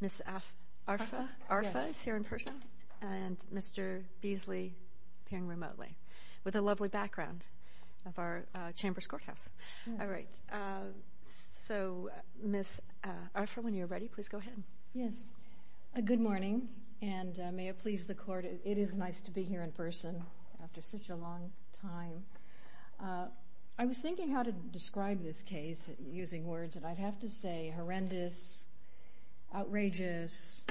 Ms. Arfa is here in person, and Mr. Beasley, appearing remotely, with a lovely background of our Chambers Courthouse. All right. So, Ms. Arfa, when you're ready, please go ahead. Yes. Good morning, and may it please the Court, it is nice to be here in person after such a long time. I was thinking how to describe this case, using words that I'd have to say, horrendous, outrageous,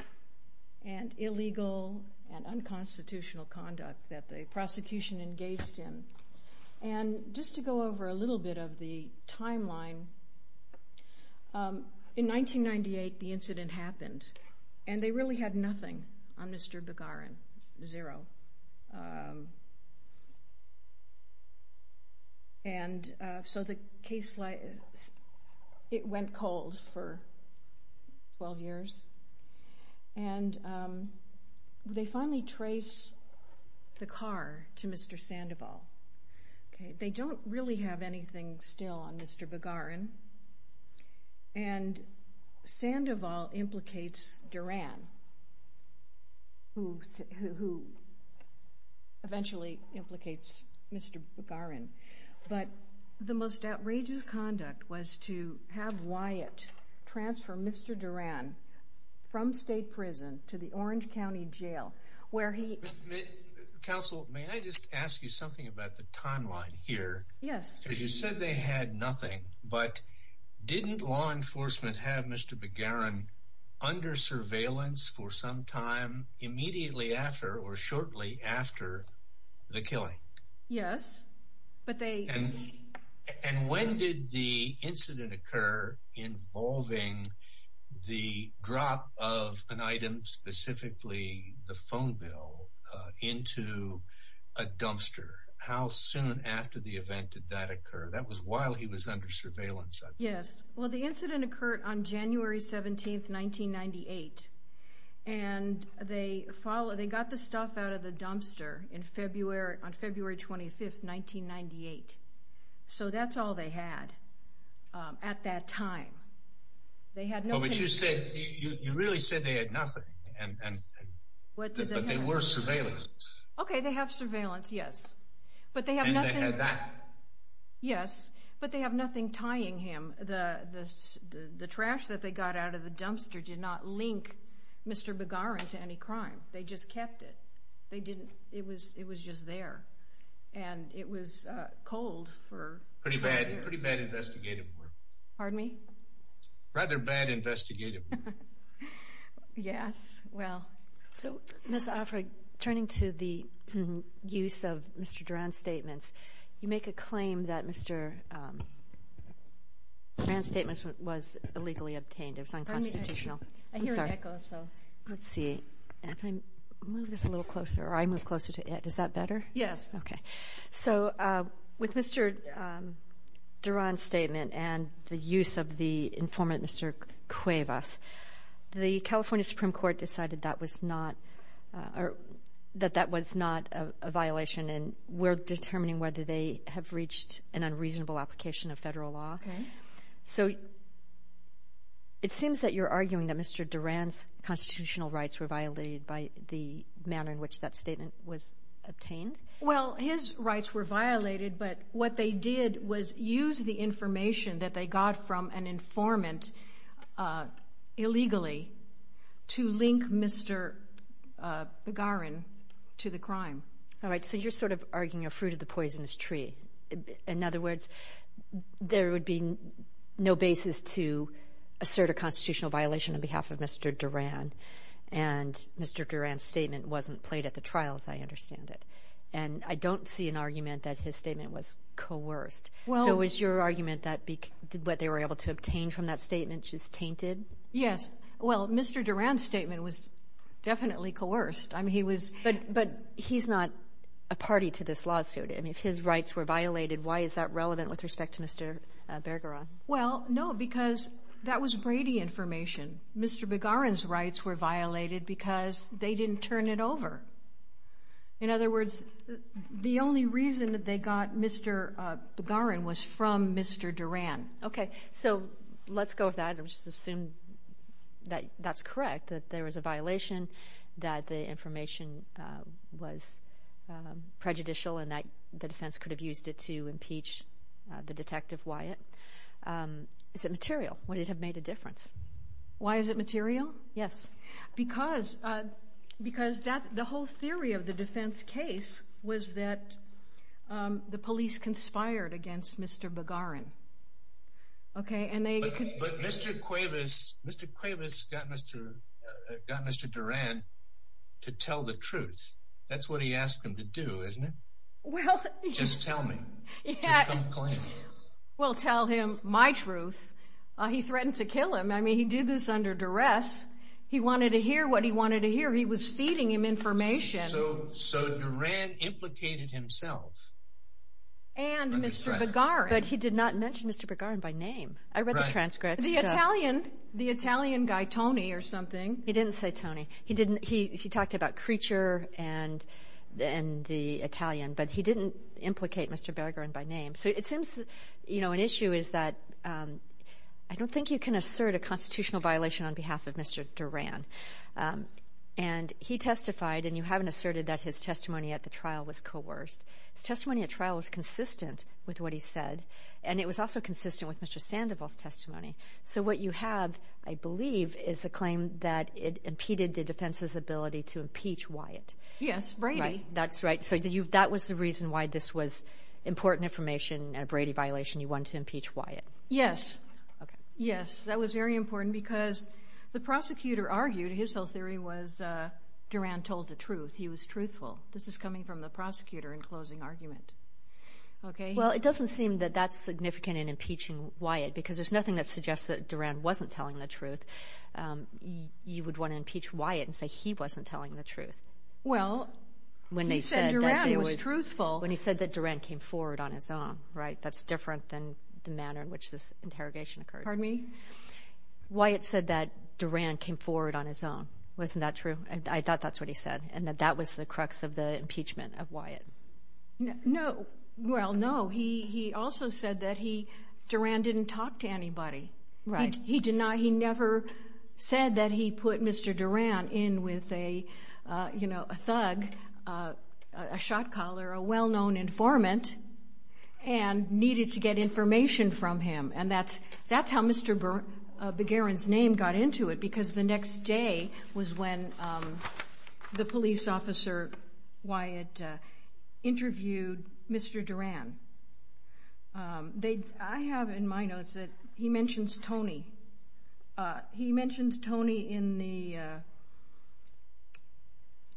and illegal, and unconstitutional conduct that the prosecution engaged in. And just to go over a little bit of the timeline, in 1998, the incident happened, and they really had nothing on Mr. Begaren. Zero. And so the case, it went cold for 12 years, and they finally trace the car to Mr. Sandoval. They don't really have anything still on Mr. Begaren, and Sandoval implicates Duran, who eventually implicates Mr. Begaren. But the most outrageous conduct was to have Wyatt transfer Mr. Duran from state prison to the Orange County Jail, where he... Counsel, may I just ask you something about the timeline here? Yes. Because you said they had nothing, but didn't law enforcement have Mr. Begaren under surveillance for some time immediately after, or shortly after, the killing? Yes, but they... And when did the incident occur involving the drop of an item, specifically the phone bill, into a dumpster? How soon after the event did that occur? That was while he was under surveillance. Yes. Well, the incident occurred on January 17, 1998, and they got the stuff out of the dumpster on February 25, 1998. So that's all they had at that time. They had no... But you said, you really said they had nothing, and... What did they have? But they were surveillance. Okay, they have surveillance, yes. And they had that? Yes, but they have nothing tying him. The trash that they got out of the dumpster did not link Mr. Begaren to any crime. They just kept it. It was just there, and it was cold for... Pretty bad investigative work. Pardon me? Rather bad investigative work. Yes, well... So, Ms. Offred, turning to the use of Mr. Duran's statements, you make a claim that Mr. Duran's statements was illegally obtained. It was unconstitutional. I hear an echo, so... Let's see. Can I move this a little closer, or I move closer to it? Is that better? Yes. Okay. So, with Mr. Duran's statement and the use of the informant, Mr. Cuevas, the California Supreme Court decided that was not... that that was not a violation, and we're determining whether they have reached an unreasonable application of federal law. Okay. So, it seems that you're arguing that Mr. Duran's constitutional rights were violated by the manner in which that statement was obtained? Well, his rights were violated, but what they did was use the information that they got from an informant illegally to link Mr. Begaren to the crime. All right. So, you're sort of arguing a fruit of the poisonous tree. In other words, there would be no basis to assert a constitutional violation on behalf of Mr. Duran, and Mr. Duran's statement wasn't played at the trials, I understand it. And I don't see an argument that his statement was coerced. Well... So, is your argument that what they were able to obtain from that statement just tainted? Yes. Well, Mr. Duran's statement was definitely coerced. I mean, he was... But he's not a party to this lawsuit. I mean, if his rights were violated, why is that relevant with respect to Mr. Bergeron? Well, no, because that was Brady information. Mr. Begaren's rights were violated because they didn't turn it over. In other words, the only reason that they got Mr. Begaren was from Mr. Duran. Okay. So, let's go with that and just assume that that's correct, that there was a violation, that the information was prejudicial, and that the defense could have used it to impeach the detective Wyatt. Is it material? Would it have made a difference? Why is it material? Yes. Because the whole theory of the defense case was that the police conspired against Mr. Begaren. But Mr. Cuevas got Mr. Duran to tell the truth. That's what he asked him to do, isn't it? Well... Just tell me. Just come clean. Well, tell him my truth. He threatened to kill him. I mean, he did this under duress. He wanted to hear what he wanted to hear. He was feeding him information. So, Duran implicated himself. And Mr. Begaren. But he did not mention Mr. Begaren by name. I read the transcripts. The Italian guy, Tony, or something. He didn't say Tony. He talked about Kreacher and the Italian, but he didn't implicate Mr. Begaren by name. So it seems, you know, an issue is that I don't think you can assert a constitutional violation on behalf of Mr. Duran. And he testified, and you haven't asserted that his testimony at the trial was coerced. His testimony at trial was consistent with what he said, and it was also consistent with Mr. Sandoval's testimony. So what you have, I believe, is a claim that it impeded the defense's ability to impeach Wyatt. Yes. Brady. That's right. So that was the reason why this was important information, a Brady violation. You wanted to impeach Wyatt. Yes. Okay. Yes. That was very important because the prosecutor argued his whole theory was Duran told the truth. He was truthful. This is coming from the prosecutor in closing argument. Okay? Well, it doesn't seem that that's significant in impeaching Wyatt because there's nothing that suggests that Duran wasn't telling the truth. You would want to impeach Wyatt and say he wasn't telling the truth. Well, he said Duran was truthful. When he said that Duran came forward on his own, right? That's different than the manner in which this interrogation occurred. Pardon me? Wyatt said that Duran came forward on his own. Wasn't that true? I thought that's what he said, and that that was the crux of the impeachment of Wyatt. No. Well, no. He also said that Duran didn't talk to anybody. Right. He never said that he put Mr. Duran in with a thug, a shot caller, a well-known informant, and needed to get information from him. And that's how Mr. Begarin's name got into it, because the next day was when the police officer, Wyatt, interviewed Mr. Duran. I have in my notes that he mentions Tony. He mentioned Tony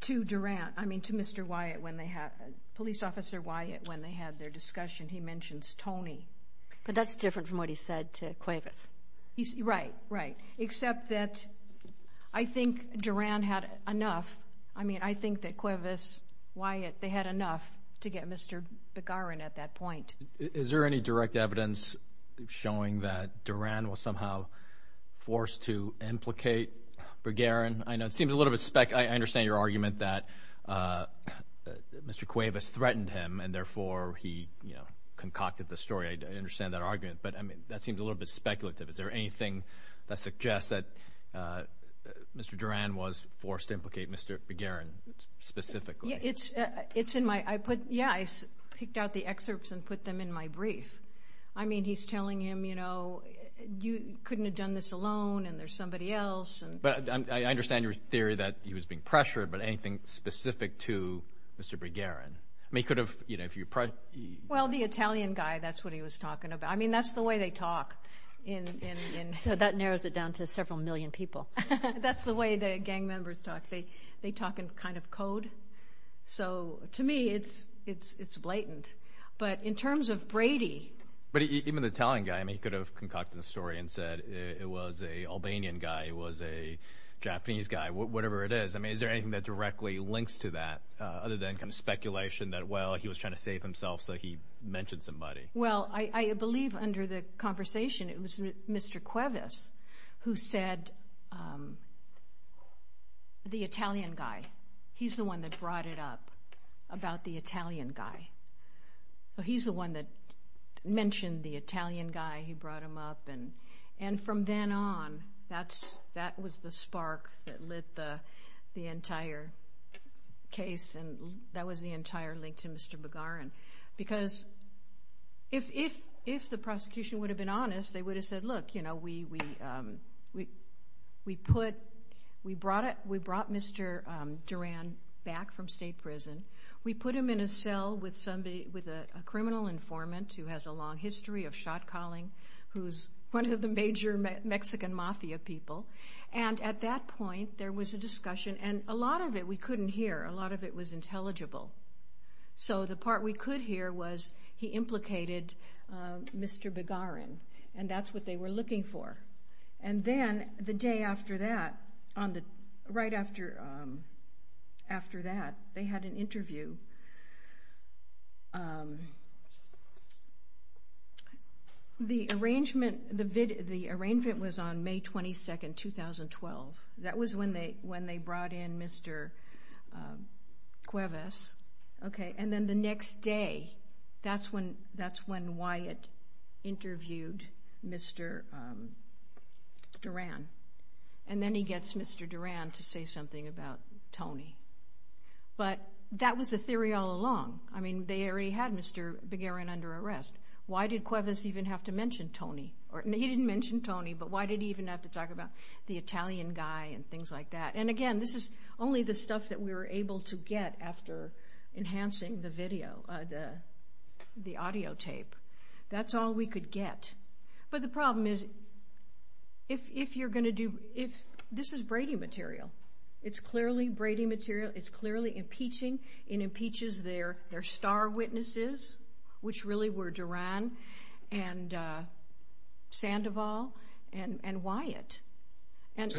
to Duran, I mean to Mr. Wyatt, police officer Wyatt, when they had their discussion. He mentions Tony. But that's different from what he said to Cuevas. Right, right. Except that I think Duran had enough. I mean, I think that Cuevas, Wyatt, they had enough to get Mr. Begarin at that point. Is there any direct evidence showing that Duran was somehow forced to implicate Begarin? I understand your argument that Mr. Cuevas threatened him, and therefore he concocted the story. I understand that argument, but that seems a little bit speculative. Is there anything that suggests that Mr. Duran was forced to implicate Mr. Begarin specifically? Yeah, I picked out the excerpts and put them in my brief. I mean, he's telling him, you know, you couldn't have done this alone, and there's somebody else. But I understand your theory that he was being pressured, but anything specific to Mr. Begarin? Well, the Italian guy, that's what he was talking about. I mean, that's the way they talk. So that narrows it down to several million people. That's the way the gang members talk. They talk in kind of code. So to me, it's blatant. But in terms of Brady… But even the Italian guy, I mean, he could have concocted the story and said it was an Albanian guy, it was a Japanese guy, whatever it is. I mean, is there anything that directly links to that other than kind of speculation that, well, he was trying to save himself, so he mentioned somebody? Well, I believe under the conversation it was Mr. Cuevas who said the Italian guy, he's the one that brought it up about the Italian guy. He's the one that mentioned the Italian guy. He brought him up. And from then on, that was the spark that lit the entire case, and that was the entire link to Mr. Begarin. Because if the prosecution would have been honest, they would have said, look, we brought Mr. Duran back from state prison. We put him in a cell with a criminal informant who has a long history of shot calling, who's one of the major Mexican mafia people. And at that point, there was a discussion, and a lot of it we couldn't hear. A lot of it was intelligible. So the part we could hear was he implicated Mr. Begarin, and that's what they were looking for. And then the day after that, right after that, they had an interview. The arrangement was on May 22, 2012. That was when they brought in Mr. Cuevas. And then the next day, that's when Wyatt interviewed Mr. Duran, and then he gets Mr. Duran to say something about Tony. But that was the theory all along. I mean, they already had Mr. Begarin under arrest. Why did Cuevas even have to mention Tony? He didn't mention Tony, but why did he even have to talk about the Italian guy and things like that? And again, this is only the stuff that we were able to get after enhancing the video, the audio tape. That's all we could get. But the problem is, this is Brady material. It's clearly Brady material. It's clearly impeaching. It impeaches their star witnesses, which really were Duran and Sandoval and Wyatt.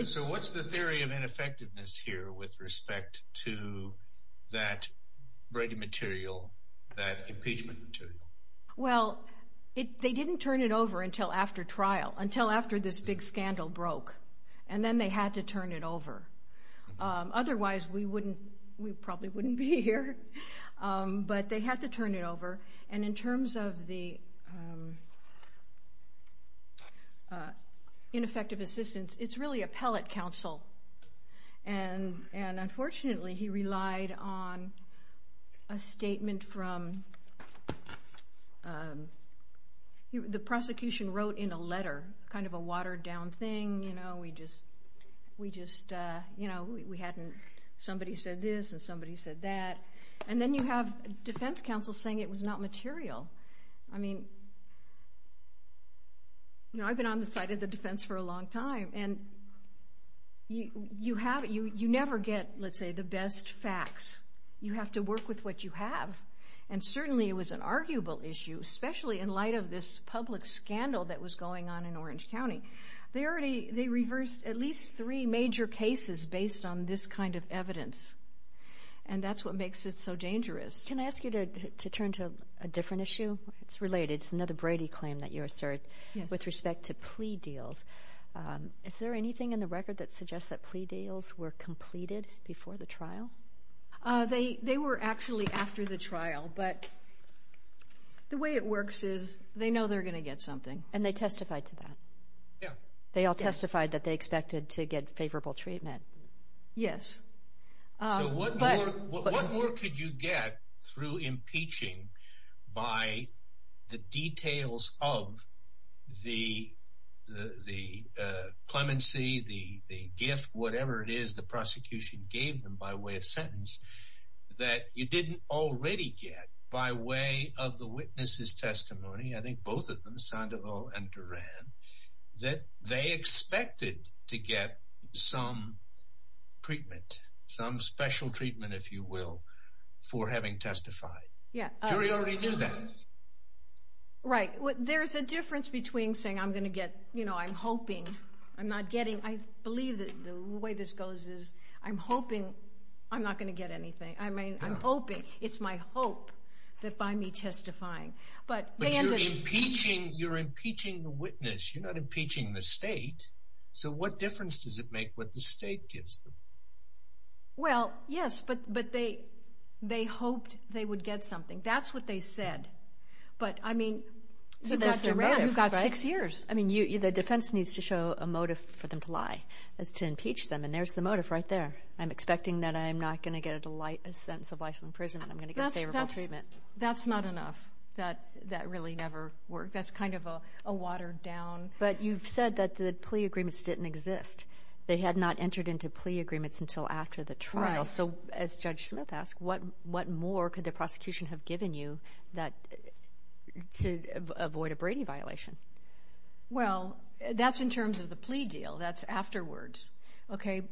So what's the theory of ineffectiveness here with respect to that Brady material, that impeachment material? Well, they didn't turn it over until after trial, until after this big scandal broke. And then they had to turn it over. Otherwise, we probably wouldn't be here. But they had to turn it over, and in terms of the ineffective assistance, it's really appellate counsel. And unfortunately, he relied on a statement from—the prosecution wrote in a letter, kind of a watered-down thing. You know, we hadn't—somebody said this, and somebody said that. And then you have defense counsel saying it was not material. I mean, you know, I've been on the side of the defense for a long time, and you never get, let's say, the best facts. You have to work with what you have. And certainly it was an arguable issue, especially in light of this public scandal that was going on in Orange County. They reversed at least three major cases based on this kind of evidence, and that's what makes it so dangerous. Can I ask you to turn to a different issue? It's related. It's another Brady claim that you assert with respect to plea deals. Is there anything in the record that suggests that plea deals were completed before the trial? They were actually after the trial, but the way it works is they know they're going to get something. And they testified to that? Yeah. They all testified that they expected to get favorable treatment? Yes. So what more could you get through impeaching by the details of the clemency, the gift, whatever it is the prosecution gave them by way of sentence, that you didn't already get by way of the witness's testimony, I think both of them, Sandoval and Duran, that they expected to get some treatment, some special treatment, if you will, for having testified? Yeah. The jury already knew that. Right. There's a difference between saying I'm going to get, you know, I'm hoping, I'm not getting. I mean, I believe that the way this goes is I'm hoping I'm not going to get anything. I mean, I'm hoping. It's my hope that by me testifying. But you're impeaching the witness. You're not impeaching the state. So what difference does it make what the state gives them? Well, yes, but they hoped they would get something. That's what they said. But, I mean, you've got six years. I mean, the defense needs to show a motive for them to lie is to impeach them, and there's the motive right there. I'm expecting that I'm not going to get a sentence of life in prison and I'm going to get a favorable treatment. That's not enough. That really never worked. That's kind of a watered down. But you've said that the plea agreements didn't exist. They had not entered into plea agreements until after the trial. Right. So as Judge Smith asked, what more could the prosecution have given you to avoid a Brady violation? Well, that's in terms of the plea deal. That's afterwards. Okay.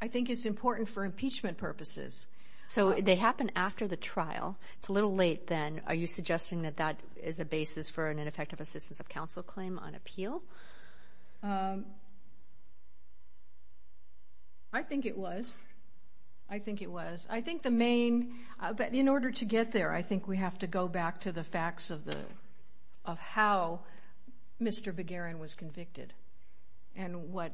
I think it's important for impeachment purposes. So they happened after the trial. It's a little late then. Are you suggesting that that is a basis for an ineffective assistance of counsel claim on appeal? I think it was. I think it was. I think the main—but in order to get there, I think we have to go back to the facts of how Mr. Beguerin was convicted and why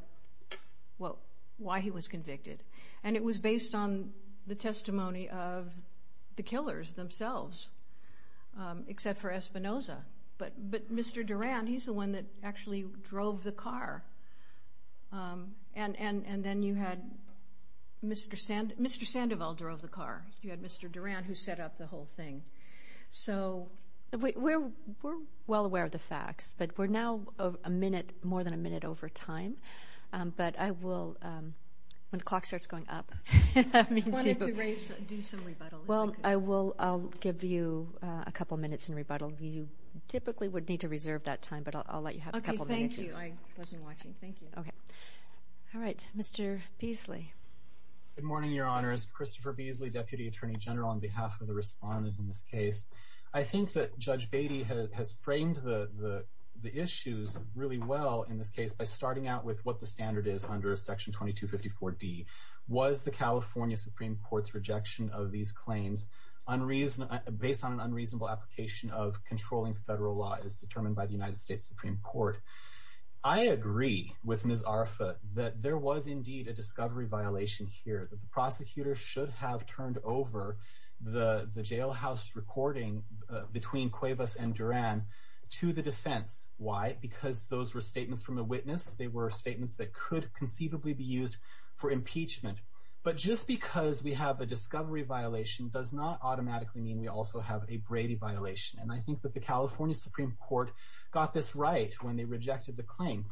he was convicted. And it was based on the testimony of the killers themselves, except for Espinoza. But Mr. Duran, he's the one that actually drove the car. And then you had Mr. Sandoval drove the car. You had Mr. Duran, who set up the whole thing. So— We're well aware of the facts, but we're now a minute, more than a minute over time. But I will—when the clock starts going up— I wanted to do some rebuttal. Well, I'll give you a couple minutes in rebuttal. You typically would need to reserve that time, but I'll let you have a couple minutes. Thank you. I wasn't watching. Thank you. All right. Mr. Beasley. Good morning, Your Honors. Christopher Beasley, Deputy Attorney General, on behalf of the respondent in this case. I think that Judge Beatty has framed the issues really well in this case by starting out with what the standard is under Section 2254D. Was the California Supreme Court's rejection of these claims based on an unreasonable application of controlling federal law as determined by the United States Supreme Court? I agree with Ms. Arfa that there was indeed a discovery violation here, that the prosecutor should have turned over the jailhouse recording between Cuevas and Duran to the defense. Why? Because those were statements from a witness. They were statements that could conceivably be used for impeachment. But just because we have a discovery violation does not automatically mean we also have a Brady violation. And I think that the California Supreme Court got this right when they rejected the claim.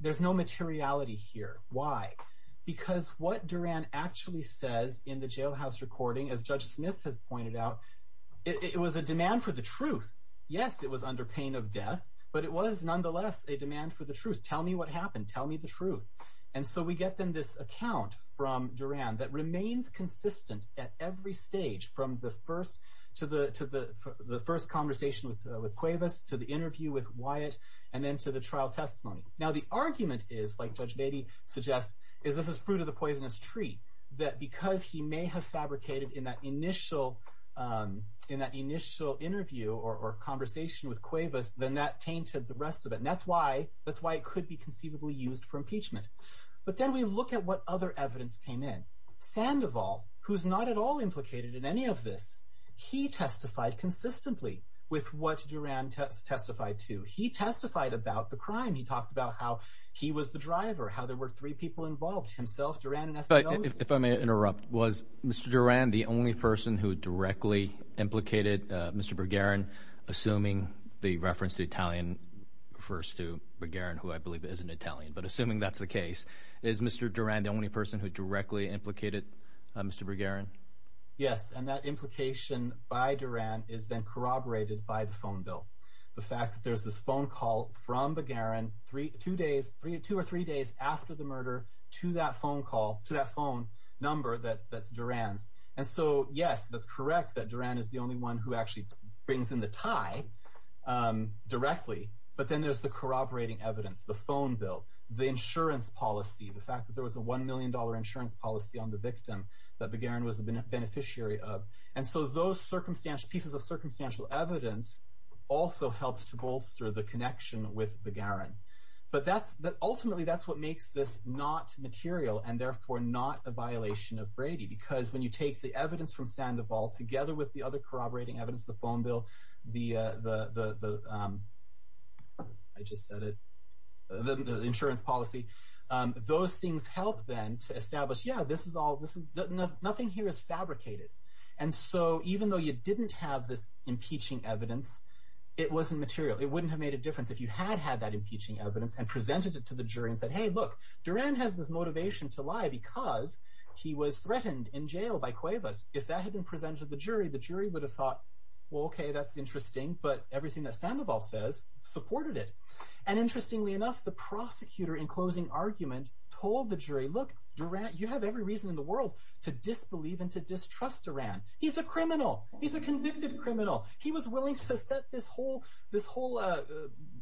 There's no materiality here. Why? Because what Duran actually says in the jailhouse recording, as Judge Smith has pointed out, it was a demand for the truth. Yes, it was under pain of death, but it was nonetheless a demand for the truth. Tell me what happened. Tell me the truth. And so we get, then, this account from Duran that remains consistent at every stage from the first conversation with Cuevas to the interview with Wyatt and then to the trial testimony. Now, the argument is, like Judge Brady suggests, is this is fruit of the poisonous tree, that because he may have fabricated in that initial interview or conversation with Cuevas, then that tainted the rest of it. And that's why it could be conceivably used for impeachment. But then we look at what other evidence came in. Sandoval, who's not at all implicated in any of this, he testified consistently with what Duran testified to. He testified about the crime. He talked about how he was the driver, how there were three people involved, himself, Duran, and SBOs. If I may interrupt, was Mr. Duran the only person who directly implicated Mr. Bergeron, assuming the reference to Italian refers to Bergeron, who I believe is an Italian? But assuming that's the case, is Mr. Duran the only person who directly implicated Mr. Bergeron? Yes, and that implication by Duran is then corroborated by the phone bill. The fact that there's this phone call from Bergeron two or three days after the murder to that phone number that's Duran's. And so, yes, that's correct that Duran is the only one who actually brings in the tie directly. But then there's the corroborating evidence, the phone bill, the insurance policy, the fact that there was a $1 million insurance policy on the victim that Bergeron was a beneficiary of. And so those pieces of circumstantial evidence also helped to bolster the connection with Bergeron. But ultimately, that's what makes this not material and therefore not a violation of Brady. Because when you take the evidence from Sandoval together with the other corroborating evidence, the phone bill, the insurance policy, those things help then to establish, yeah, nothing here is fabricated. And so even though you didn't have this impeaching evidence, it wasn't material. It wouldn't have made a difference if you had had that impeaching evidence and presented it to the jury and said, hey, look, Duran has this motivation to lie because he was threatened in jail by Cuevas. If that had been presented to the jury, the jury would have thought, well, OK, that's interesting. But everything that Sandoval says supported it. And interestingly enough, the prosecutor in closing argument told the jury, look, Duran, you have every reason in the world to disbelieve and to distrust Duran. He's a criminal. He's a convicted criminal. He was willing to set this whole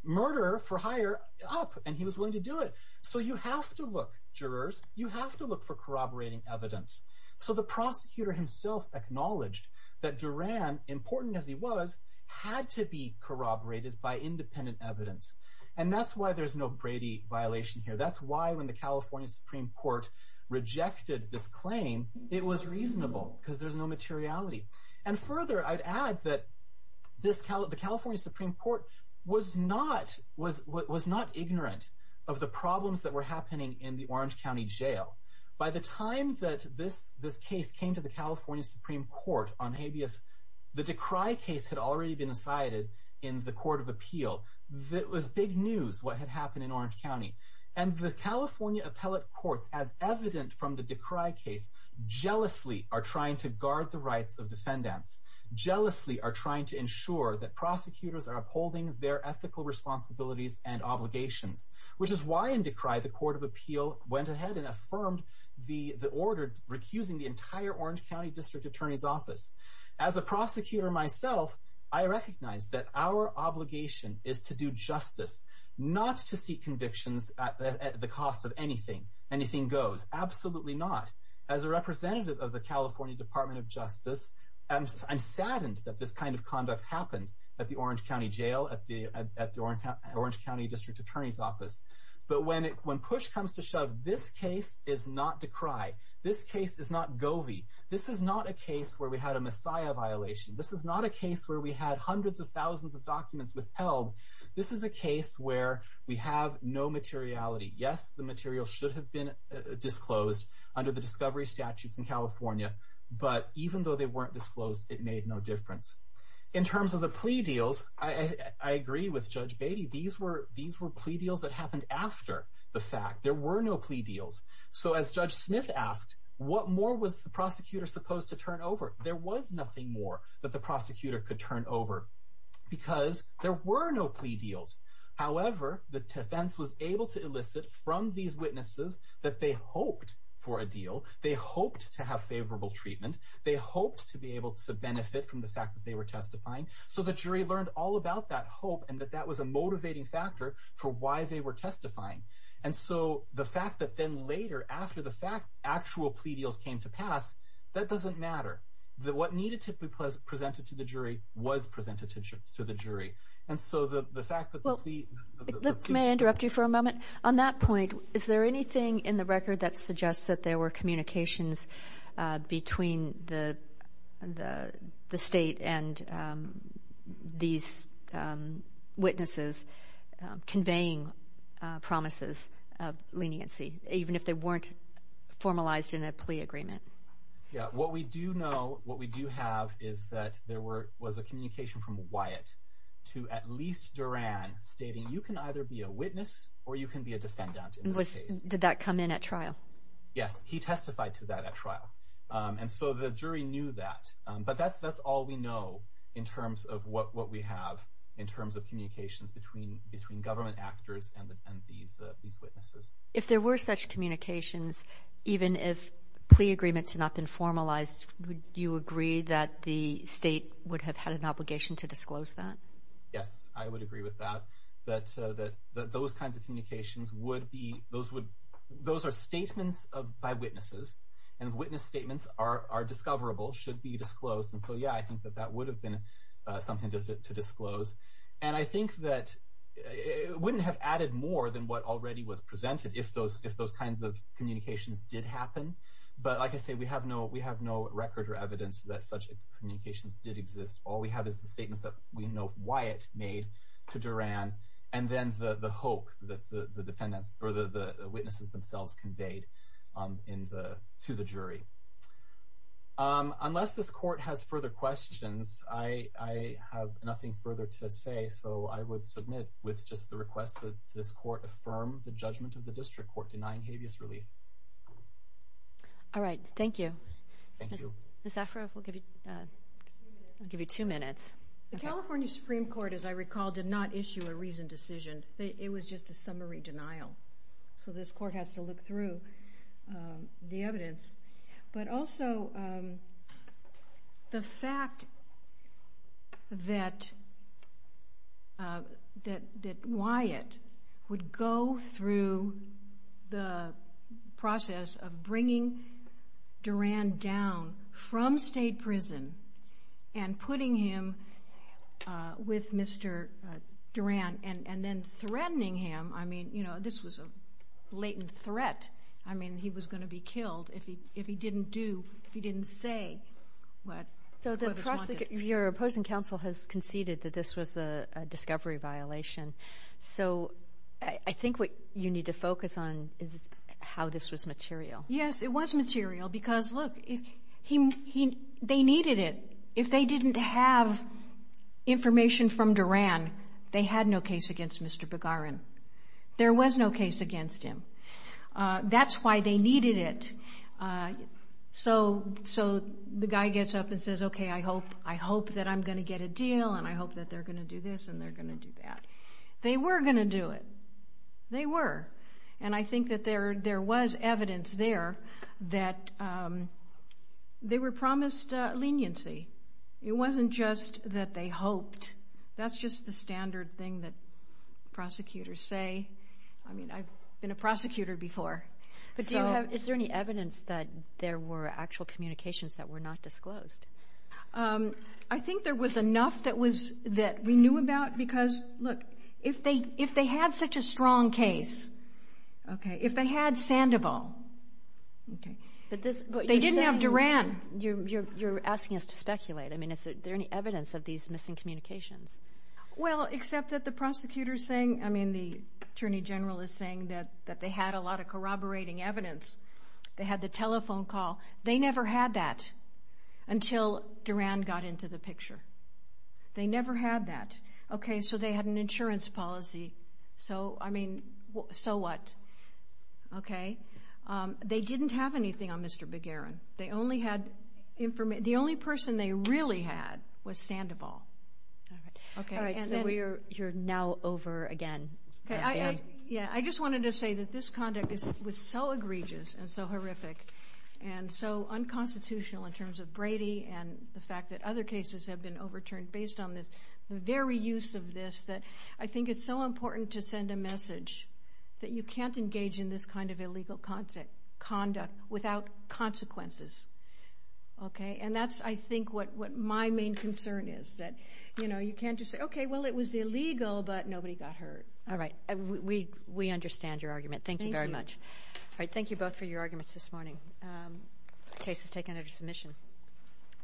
murder for hire up, and he was willing to do it. So you have to look, jurors. You have to look for corroborating evidence. So the prosecutor himself acknowledged that Duran, important as he was, had to be corroborated by independent evidence. And that's why there's no Brady violation here. That's why when the California Supreme Court rejected this claim, it was reasonable because there's no materiality. And further, I'd add that the California Supreme Court was not ignorant of the problems that were happening in the Orange County jail. By the time that this case came to the California Supreme Court on habeas, the Decry case had already been decided in the Court of Appeal. It was big news what had happened in Orange County. And the California appellate courts, as evident from the Decry case, jealously are trying to guard the rights of defendants, jealously are trying to ensure that prosecutors are upholding their ethical responsibilities and obligations, which is why in Decry the Court of Appeal went ahead and affirmed the order recusing the entire Orange County District Attorney's Office. As a prosecutor myself, I recognize that our obligation is to do justice, not to seek convictions at the cost of anything. Anything goes. Absolutely not. As a representative of the California Department of Justice, I'm saddened that this kind of conduct happened at the Orange County jail, at the Orange County District Attorney's Office. But when push comes to shove, this case is not Decry. This case is not Govey. This is not a case where we had a Messiah violation. This is not a case where we had hundreds of thousands of documents withheld. This is a case where we have no materiality. Yes, the material should have been disclosed under the discovery statutes in California. But even though they weren't disclosed, it made no difference. In terms of the plea deals, I agree with Judge Beatty. These were plea deals that happened after the fact. There were no plea deals. So as Judge Smith asked, what more was the prosecutor supposed to turn over? There was nothing more that the prosecutor could turn over because there were no plea deals. However, the defense was able to elicit from these witnesses that they hoped for a deal. They hoped to have favorable treatment. They hoped to be able to benefit from the fact that they were testifying. So the jury learned all about that hope and that that was a motivating factor for why they were testifying. And so the fact that then later, after the fact, actual plea deals came to pass, that doesn't matter. What needed to be presented to the jury was presented to the jury. And so the fact that the plea— Well, may I interrupt you for a moment? On that point, is there anything in the record that suggests that there were communications between the state and these witnesses conveying promises of leniency, even if they weren't formalized in a plea agreement? Yeah, what we do know, what we do have is that there was a communication from Wyatt to at least Duran, stating you can either be a witness or you can be a defendant in this case. Did that come in at trial? Yes, he testified to that at trial. And so the jury knew that. But that's all we know in terms of what we have in terms of communications between government actors and these witnesses. If there were such communications, even if plea agreements had not been formalized, would you agree that the state would have had an obligation to disclose that? Yes, I would agree with that, that those kinds of communications would be— those are statements by witnesses, and witness statements are discoverable, should be disclosed. And so, yeah, I think that that would have been something to disclose. And I think that it wouldn't have added more than what already was presented if those kinds of communications did happen. But like I say, we have no record or evidence that such communications did exist. All we have is the statements that we know Wyatt made to Duran, and then the hope that the witnesses themselves conveyed to the jury. Unless this court has further questions, I have nothing further to say. So I would submit with just the request that this court affirm the judgment of the district court denying habeas relief. All right, thank you. Ms. Zafra, we'll give you two minutes. The California Supreme Court, as I recall, did not issue a reasoned decision. It was just a summary denial. So this court has to look through the evidence. But also the fact that Wyatt would go through the process of bringing Duran down from state prison and putting him with Mr. Duran and then threatening him. I mean, this was a latent threat. I mean, he was going to be killed if he didn't say what was wanted. So your opposing counsel has conceded that this was a discovery violation. So I think what you need to focus on is how this was material. Yes, it was material because, look, they needed it. If they didn't have information from Duran, they had no case against Mr. Begarin. There was no case against him. That's why they needed it. So the guy gets up and says, okay, I hope that I'm going to get a deal and I hope that they're going to do this and they're going to do that. They were going to do it. They were. And I think that there was evidence there that they were promised leniency. It wasn't just that they hoped. That's just the standard thing that prosecutors say. I mean, I've been a prosecutor before. Is there any evidence that there were actual communications that were not disclosed? I think there was enough that we knew about because, look, if they had such a strong case, if they had Sandoval, they didn't have Duran. You're asking us to speculate. I mean, is there any evidence of these missing communications? Well, except that the attorney general is saying that they had a lot of corroborating evidence. They had the telephone call. They never had that until Duran got into the picture. They never had that. Okay, so they had an insurance policy. So, I mean, so what? Okay. They didn't have anything on Mr. Begarin. They only had information. The only person they really had was Sandoval. All right, so you're now over again. Yeah, I just wanted to say that this conduct was so egregious and so horrific and so unconstitutional in terms of Brady and the fact that other cases have been overturned based on this, the very use of this that I think it's so important to send a message that you can't engage in this kind of illegal conduct without consequences, okay? And that's, I think, what my main concern is that, you know, you can't just say, okay, well, it was illegal, but nobody got hurt. All right, we understand your argument. Thank you very much. Thank you. All right, thank you both for your arguments this morning. The case is taken under submission.